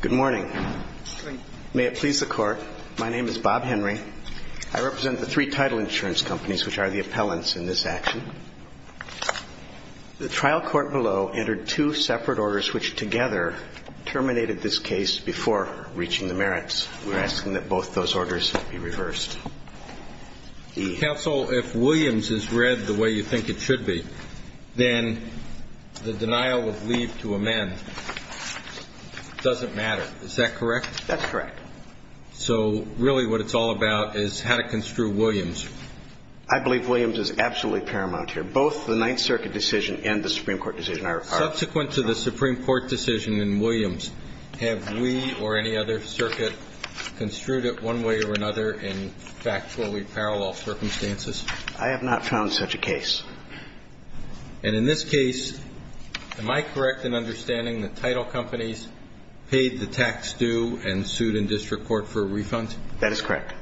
Good morning. May it please the Court, my name is Bob Henry. I represent the three title insurance companies which are the appellants in this action. The trial court below entered two separate orders which together terminated this case before reaching the merits. We're asking that both those orders be reversed. Counsel, if Williams is read the way you think it should be, then the denial would lead to amend. It doesn't matter. Is that correct? That's correct. So really what it's all about is how to construe Williams. I believe Williams is absolutely paramount here. Both the Ninth Circuit decision and the Supreme Court decision are... Subsequent to the Supreme Court decision in Williams, have we or any other circuit construed it one way or another in factually parallel circumstances? I have not found such a case. And in this case, am I correct in understanding the title companies paid the tax due and sued in district court for a refund? That is correct.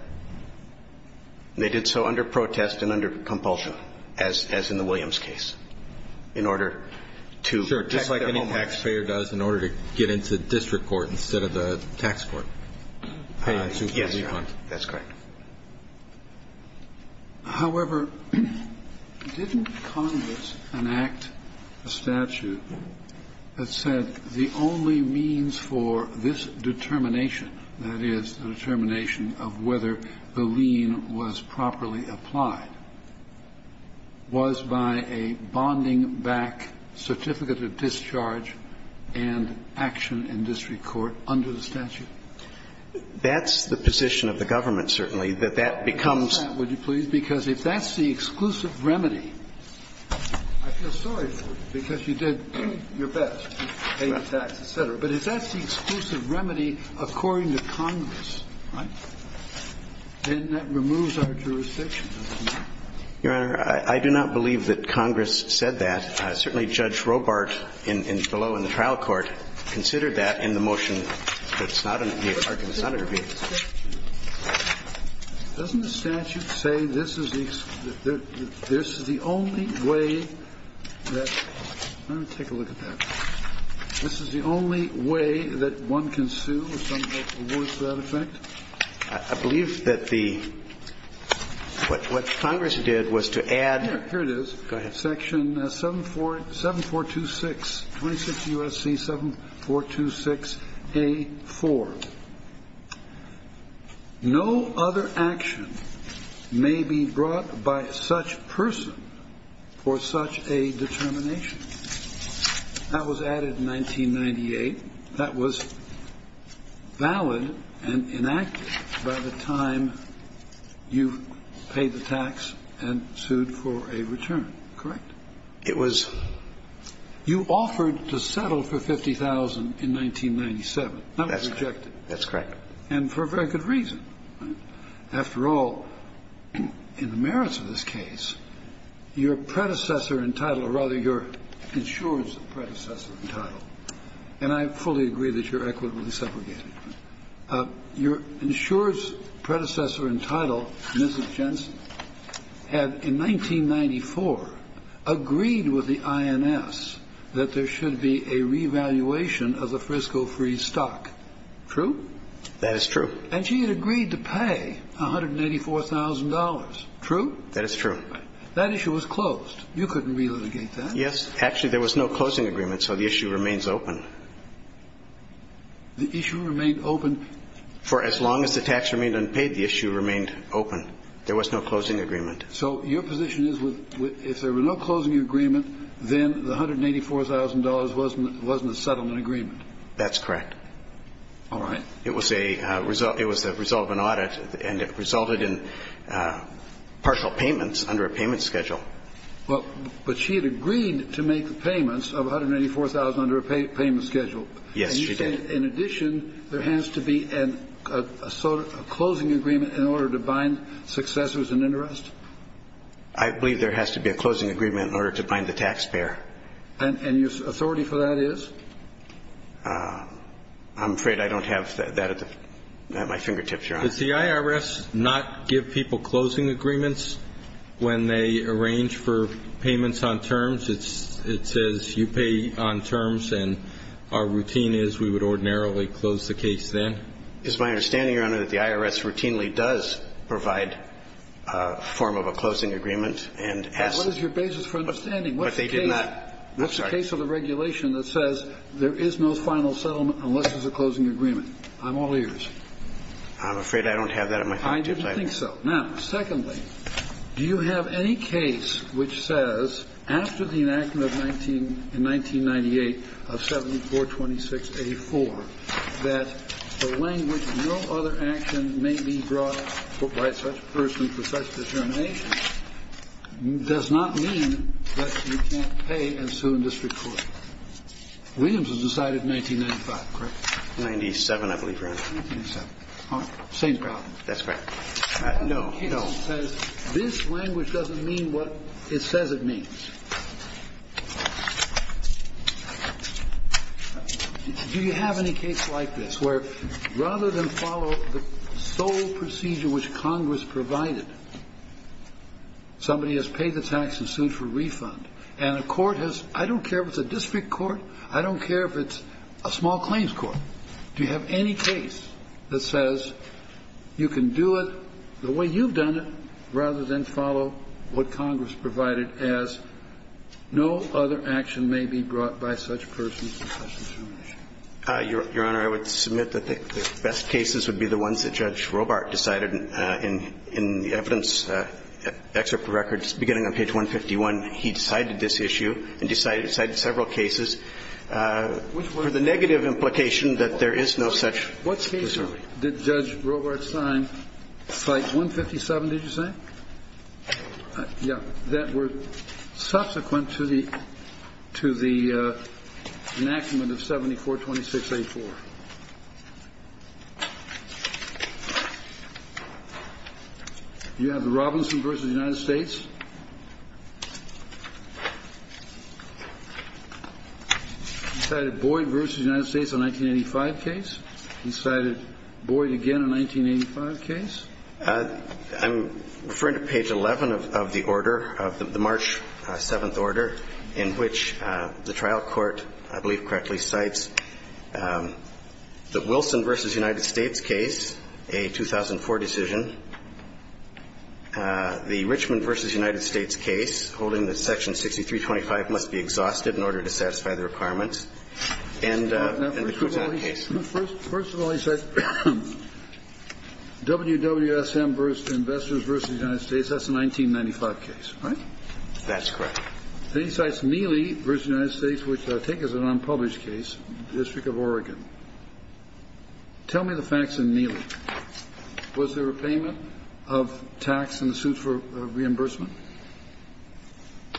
They did so under protest and under compulsion, as in the Williams case, in order to... Sure, just like any taxpayer does in order to get into district court instead of the tax court to get a refund. That's correct. However, didn't Congress enact a statute that said the only means for this determination, that is, the determination of whether the lien was properly applied, was by a bonding back certificate of discharge and action in district court under the statute? That's the position of the government, certainly, that that becomes... Would you please? Because if that's the exclusive remedy, I feel sorry for you because you did your best, paid the tax, et cetera. But if that's the exclusive remedy according to Congress, then that removes our jurisdiction. Your Honor, I do not believe that Congress said that. Certainly, Judge Robart, below in the trial court, considered that in the case of the Arkin Senator being excluded. Doesn't the statute say this is the only way that... Let me take a look at that. This is the only way that one can sue or something that rewards that effect? I believe that the... What Congress did was to add... Here it is. Go ahead. Section 7426, 26 U.S.C. 7426A4. No other action may be brought by such person for such a determination. That was added in 1998. That was valid and enacted by the time you paid the tax and sued for a return. Correct? It was... You offered to settle for 50,000 in 1997. That was rejected. That's correct. And for a very good reason. After all, in the merits of this case, your predecessor in title, or rather your insurer's predecessor in title, and I fully agree that you're equitably segregated, your insurer's predecessor in title, Mrs. Jensen, had in 1994 agreed with the INS that there should be a revaluation of the frisco-free stock. True? That is true. And she had agreed to pay $184,000. True? That is true. That issue was closed. You couldn't relitigate that. Yes. Actually, there was no closing agreement, so the issue remains open. The issue remained open... For as long as the tax remained unpaid, the issue remained open. There was no closing agreement. So your position is if there were no closing agreement, then the $184,000 wasn't a settlement agreement? That's correct. All right. It was a result of an audit, and it resulted in partial payments under a payment schedule. Well, but she had agreed to make the payments of $184,000 under a payment schedule. Yes, she did. And you say, in addition, there has to be a closing agreement in order to bind successors in interest? I believe there has to be a closing agreement in order to bind successors in interest. The question is, does the IRS, by any chance, have the authority for that? I'm afraid I don't have that at my finger tips, Your Honor. Does the IRS not give people closing agreements when they arrange for payments on terms? It says you pay on terms, and our routine is we would ordinarily close the case then? It's my understanding, Your Honor, that the IRS routinely does provide a form of a closing agreement. What is your basis for understanding? What's the case of the regulation that says there is no final settlement unless there's a closing agreement? I'm all ears. I'm afraid I don't have that at my finger tips. I didn't think so. Now, secondly, do you have any case which says after the enactment in 1998 of 7426A4 that the language no other action may be brought by such person for such determination does not mean that you can't pay and sue in district court? Williams was decided in 1995, correct? Ninety-seven, I believe, Your Honor. Ninety-seven. All right. Same problem. That's correct. No, no. This language doesn't mean what it says it means. Do you have any case like this where rather than follow the sole procedure which Congress provided, somebody has paid the tax and sued for refund, and a court has I don't care if it's a district court. I don't care if it's a small claims court. Do you have any case that says you can do it the way you've done it rather than follow what Congress provided as no other action may be brought by such person for such determination? Your Honor, I would submit that the best cases would be the ones that Judge Robart decided in the evidence, excerpt of records beginning on page 151. He decided this issue and decided several cases for the negative implication that there is no such procedure. Did Judge Robart sign slide 157, did you say? Yeah. That were subsequent to the enactment of 7426A4. You have the Robinson v. United States. He cited Boyd v. United States on 1985 case. He cited Boyd again on 1985 case. I'm referring to page 11 of the order, of the March 7th order, in which the trial court, I believe correctly, cites the Wilson v. United States case, a 2004 decision. The Richmond v. United States case, holding that Section 6325 must be exhausted in order to satisfy the requirements, and the Cotat case. First of all, he said WWSM v. Investors v. United States. That's a 1995 case, right? That's correct. Then he cites Mealy v. United States, which I take as an unpublished case, District of Oregon. Tell me the facts in Mealy. Was there a payment of tax in the suit for reimbursement?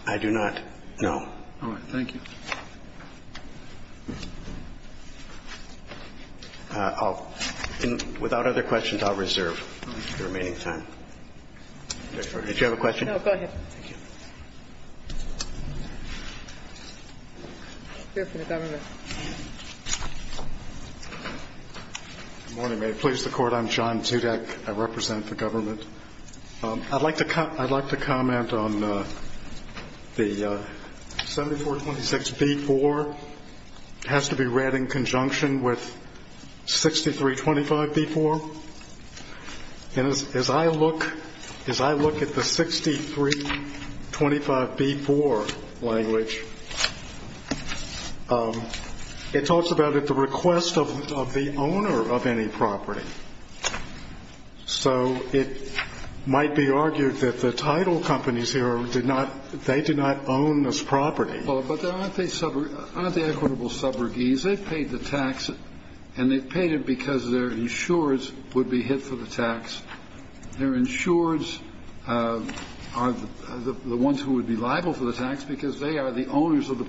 I do not, no. All right. Thank you. Without other questions, I'll reserve the remaining time. Did you have a question? No, go ahead. Thank you. Good morning, may it please the Court. I'm John Tudak. I represent the government. I'd like to comment on the 7426b-4. It has to be read in conjunction with 6325b-4. As I look at the 6325b-4 language, it talks about the request of the owner of any property. So it might be argued that the title companies here, they do not own this property. But aren't they equitable subrogates? I mean, isn't the owner of the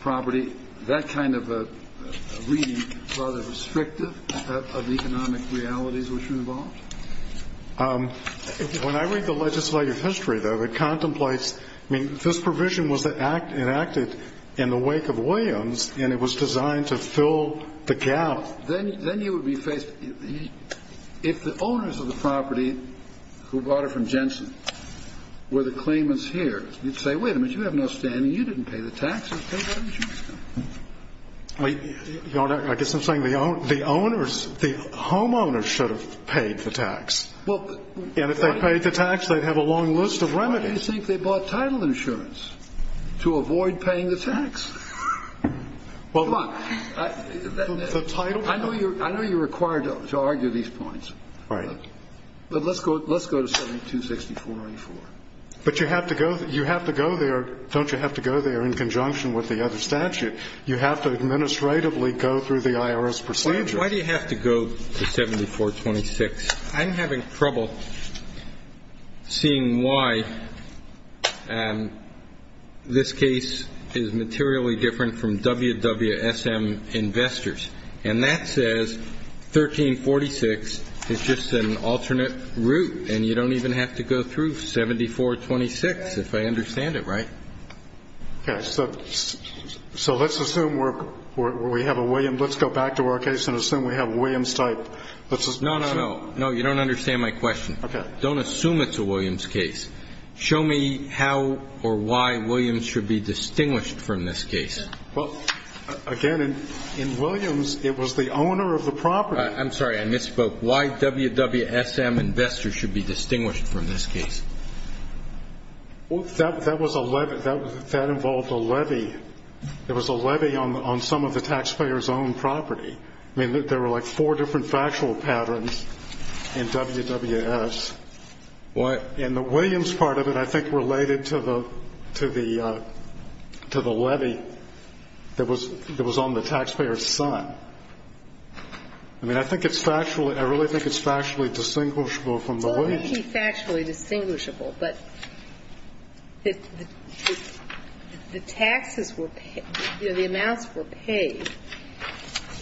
property that kind of a reading rather restrictive of the economic realities which are involved? When I read the legislative history, though, it contemplates, I mean, this provision was enacted in the wake of Williams, and it was designed to fill the gap. Then you would be faced, if the owners of the property who bought it from Jensen were the claimants here, you'd say, wait a minute, you have no standing, you didn't pay the taxes. I guess I'm saying the owners, the homeowners should have paid the tax. And if they paid the tax, they'd have a long list of remedies. Why do you think they bought title insurance? To avoid paying the tax. Come on. I know you're required to argue these points. Right. But let's go to 7264a-4. But you have to go there. Don't you have to go there in conjunction with the other statute? You have to administratively go through the IRS procedure. Why do you have to go to 7426? I'm having trouble seeing why this case is materially different from WWSM investors. And that says 1346 is just an alternate route. And you don't even have to go through 7426, if I understand it right. Okay. So let's assume we have a Williams. Let's go back to our case and assume we have a Williams type. No, no, no. No, you don't understand my question. Okay. Don't assume it's a Williams case. Show me how or why Williams should be distinguished from this case. Well, again, in Williams, it was the owner of the property. I'm sorry. I misspoke. Why WWSM investors should be distinguished from this case? Well, that was a levy. That involved a levy. It was a levy on some of the taxpayer's own property. I mean, there were like four different factual patterns in WWSM. What? In the Williams part of it, I think, related to the levy that was on the taxpayer's son. I mean, I think it's factual. I really think it's factually distinguishable from the Williams. Well, it may be factually distinguishable, but the taxes were paid. You know, the amounts were paid.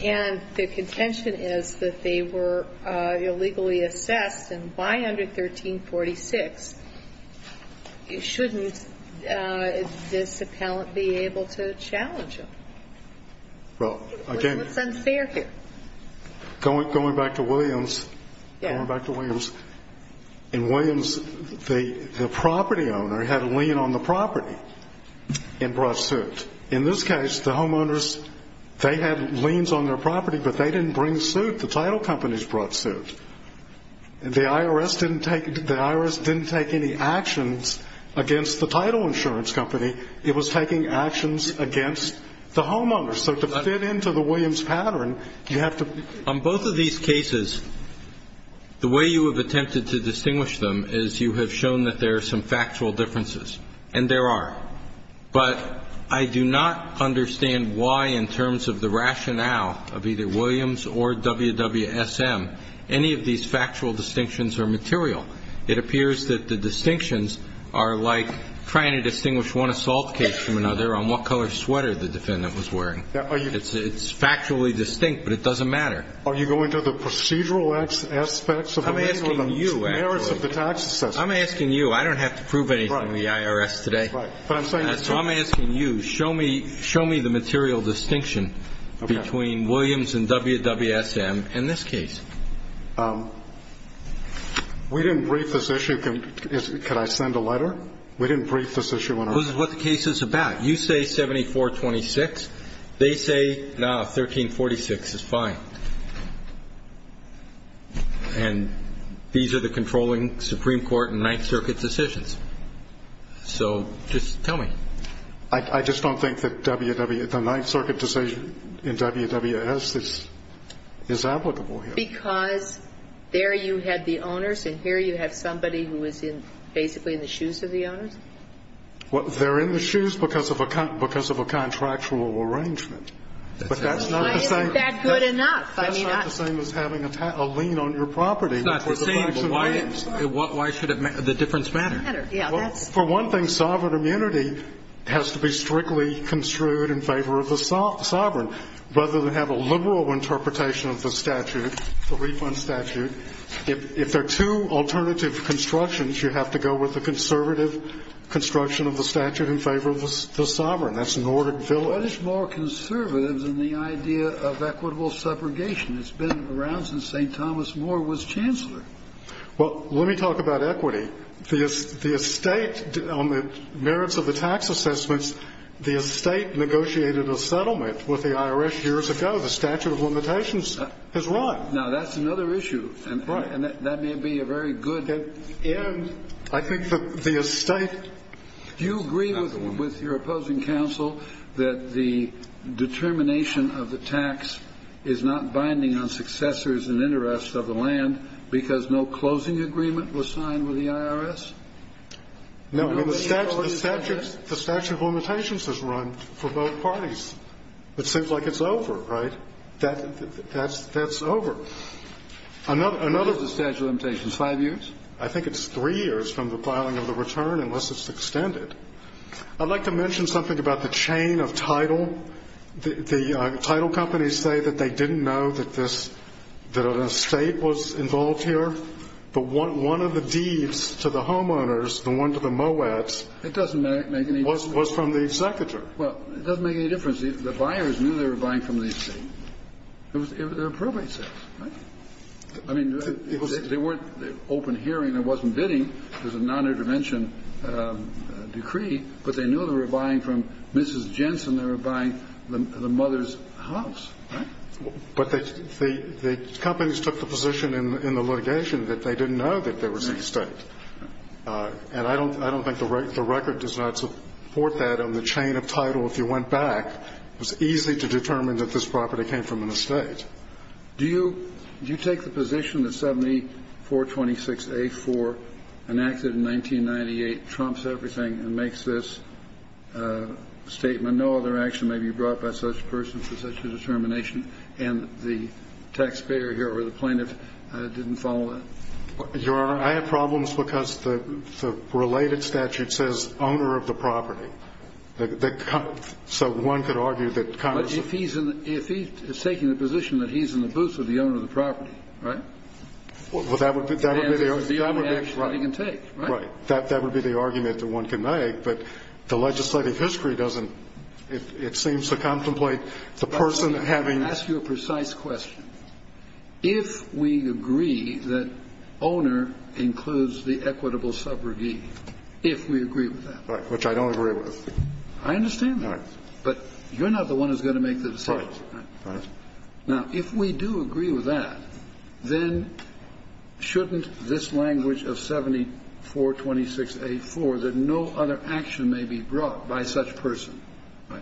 And the contention is that they were illegally assessed. And why under 1346 shouldn't this appellant be able to challenge them? Well, again. It's unfair here. Going back to Williams. Yes. Going back to Williams. In Williams, the property owner had a lien on the property and brought suit. In this case, the homeowners, they had liens on their property, but they didn't bring suit. The title companies brought suit. The IRS didn't take any actions against the title insurance company. It was taking actions against the homeowners. So to fit into the Williams pattern, you have to be. On both of these cases, the way you have attempted to distinguish them is you have shown that there are some factual differences. And there are. But I do not understand why, in terms of the rationale of either Williams or WWSM, any of these factual distinctions are material. It appears that the distinctions are like trying to distinguish one assault case from another on what color sweater the defendant was wearing. It's factually distinct, but it doesn't matter. Are you going to the procedural aspects of the merits of the taxes assessment? I'm asking you. I don't have to prove anything to the IRS today. So I'm asking you, show me the material distinction between Williams and WWSM in this case. We didn't brief this issue. Could I send a letter? We didn't brief this issue. This is what the case is about. You say 7426. They say, no, 1346 is fine. And these are the controlling Supreme Court and Ninth Circuit decisions. So just tell me. I just don't think that the Ninth Circuit decision in WWS is applicable here. Because there you had the owners, and here you have somebody who is basically in the shoes of the owners? Well, they're in the shoes because of a contractual arrangement. But that's not the same. Why isn't that good enough? That's not the same as having a lien on your property. It's not the same. Why should the difference matter? Well, for one thing, sovereign immunity has to be strictly construed in favor of the sovereign. Rather than have a liberal interpretation of the statute, the refund statute, if there are two alternative constructions, you have to go with the conservative construction of the statute in favor of the sovereign. That's Nordic village. What is more conservative than the idea of equitable separation? It's been around since St. Thomas More was chancellor. Well, let me talk about equity. The estate, on the merits of the tax assessments, the estate negotiated a settlement with the IRS years ago. The statute of limitations is right. Now, that's another issue. Right. And that may be a very good end. I think the estate. Do you agree with your opposing counsel that the determination of the tax is not binding on successors and interests of the land because no closing agreement was signed with the IRS? No. The statute of limitations is right for both parties. It seems like it's over. Right? That's over. What is the statute of limitations? Five years? I think it's three years from the filing of the return unless it's extended. I'd like to mention something about the chain of title. The title companies say that they didn't know that an estate was involved here, but one of the deeds to the homeowners, the one to the MOATs. It doesn't make any difference. Was from the executor. Well, it doesn't make any difference. The buyers knew they were buying from the estate. They were probate sales, right? I mean, they weren't open hearing. It wasn't bidding. It was a nonintervention decree, but they knew they were buying from Mrs. Jensen. They were buying the mother's house, right? But the companies took the position in the litigation that they didn't know that there was an estate. And I don't think the record does not support that on the chain of title. If you went back, it was easy to determine that this property came from an estate. Do you take the position that 7426A4, enacted in 1998, trumps everything and makes this statement, no other action may be brought by such a person for such a determination, and the taxpayer here or the plaintiff didn't follow that? Your Honor, I have problems because the related statute says owner of the property. So one could argue that Congress. But if he's taking the position that he's in the boots of the owner of the property, right? Well, that would be the only action that he can take, right? That would be the argument that one can make. But the legislative history doesn't, it seems to contemplate the person having. Let me ask you a precise question. If we agree that owner includes the equitable subrogate, if we agree with that. Right, which I don't agree with. I understand that. Right. Right. Now, if we do agree with that, then shouldn't this language of 7426A4, that no other action may be brought by such person.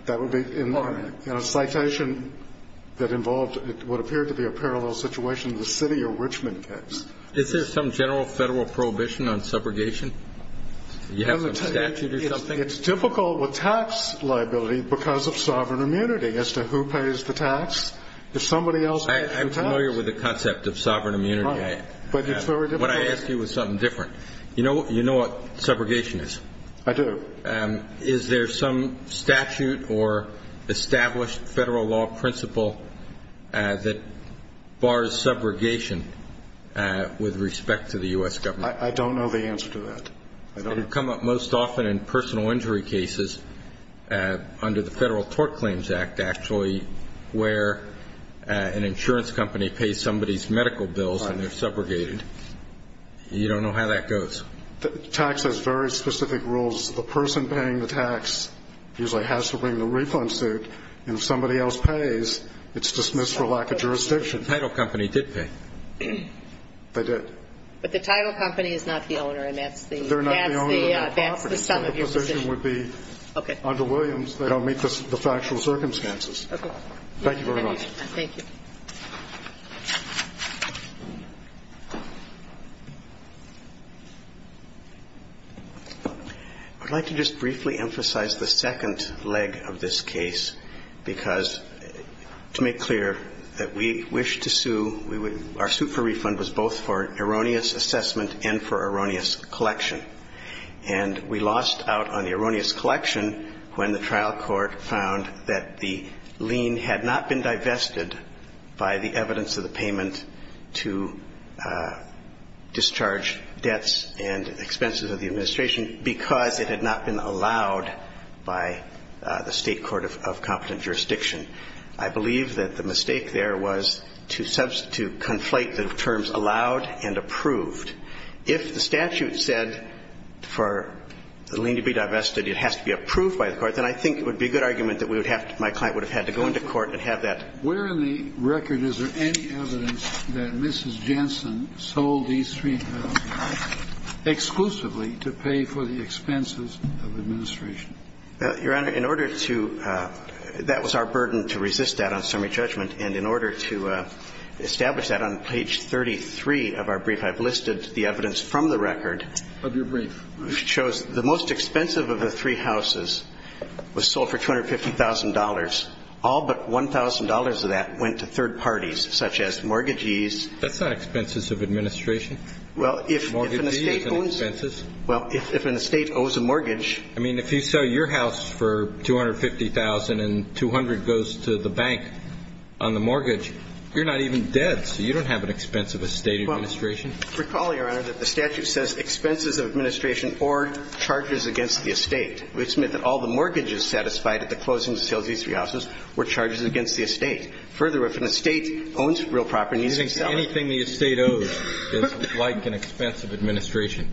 That would be in a citation that involved what appeared to be a parallel situation to the city of Richmond case. Is there some general federal prohibition on subrogation? Do you have some statute or something? It's difficult with tax liability because of sovereign immunity as to who pays the tax. If somebody else pays the tax. I'm familiar with the concept of sovereign immunity. Right. But it's very difficult. What I ask you is something different. You know what subrogation is? I do. Is there some statute or established federal law principle that bars subrogation with respect to the U.S. government? I don't know the answer to that. It would come up most often in personal injury cases under the Federal Tort Claims Act, actually, where an insurance company pays somebody's medical bills and they're subrogated. You don't know how that goes. Tax has very specific rules. The person paying the tax usually has to bring the refund suit. And if somebody else pays, it's dismissed for lack of jurisdiction. The title company did pay. They did. But the title company is not the owner and that's the sum of your position. Okay. Under Williams, they don't meet the factual circumstances. Okay. Thank you very much. Thank you. I'd like to just briefly emphasize the second leg of this case, because to make wish to sue, our suit for refund was both for erroneous assessment and for erroneous collection. And we lost out on the erroneous collection when the trial court found that the lien had not been divested by the evidence of the payment to discharge debts and expenses of the administration because it had not been allowed by the State Court of Competent Jurisdiction. I believe that the mistake there was to substitute, conflate the terms allowed and approved. If the statute said for the lien to be divested, it has to be approved by the court, then I think it would be a good argument that we would have to, my client would have had to go into court and have that. Where in the record is there any evidence that Mrs. Jensen sold these $3,000 exclusively to pay for the expenses of administration? Your Honor, in order to – that was our burden to resist that on summary judgment. And in order to establish that on page 33 of our brief, I've listed the evidence from the record. Of your brief. Which shows the most expensive of the three houses was sold for $250,000. All but $1,000 of that went to third parties, such as mortgagees. That's not expenses of administration. Well, if an estate owns – Mortgagees and expenses. Well, if an estate owes a mortgage – I mean, if you sell your house for $250,000 and $200,000 goes to the bank on the mortgage, you're not even dead, so you don't have an expense of estate administration. Well, recall, Your Honor, that the statute says expenses of administration or charges against the estate, which meant that all the mortgages satisfied at the closing of these three houses were charges against the estate. Further, if an estate owns real property – Anything the estate owes is like an expense of administration.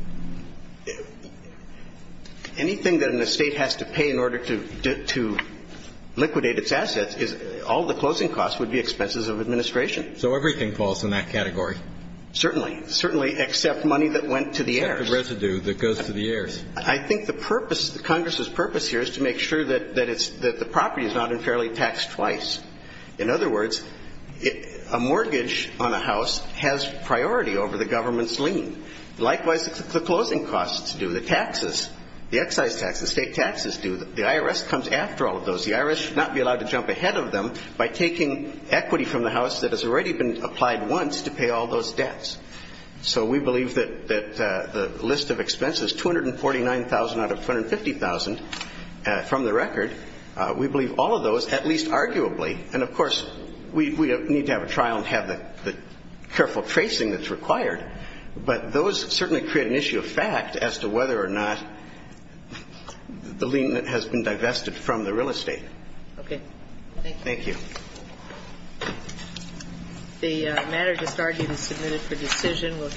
Anything that an estate has to pay in order to liquidate its assets is – all the closing costs would be expenses of administration. So everything falls in that category. Certainly. Certainly, except money that went to the heirs. Except the residue that goes to the heirs. I think the purpose – Congress's purpose here is to make sure that the property is not unfairly taxed twice. In other words, a mortgage on a house has priority over the government's lien. Likewise, the closing costs do. The taxes, the excise taxes, the state taxes do. The IRS comes after all of those. The IRS should not be allowed to jump ahead of them by taking equity from the house that has already been applied once to pay all those debts. So we believe that the list of expenses, $249,000 out of $250,000 from the record, we believe all of those, at least arguably. And, of course, we need to have a trial and have the careful tracing that's required. But those certainly create an issue of fact as to whether or not the lien has been divested from the real estate. Thank you. Thank you. The matter just argued is submitted for decision.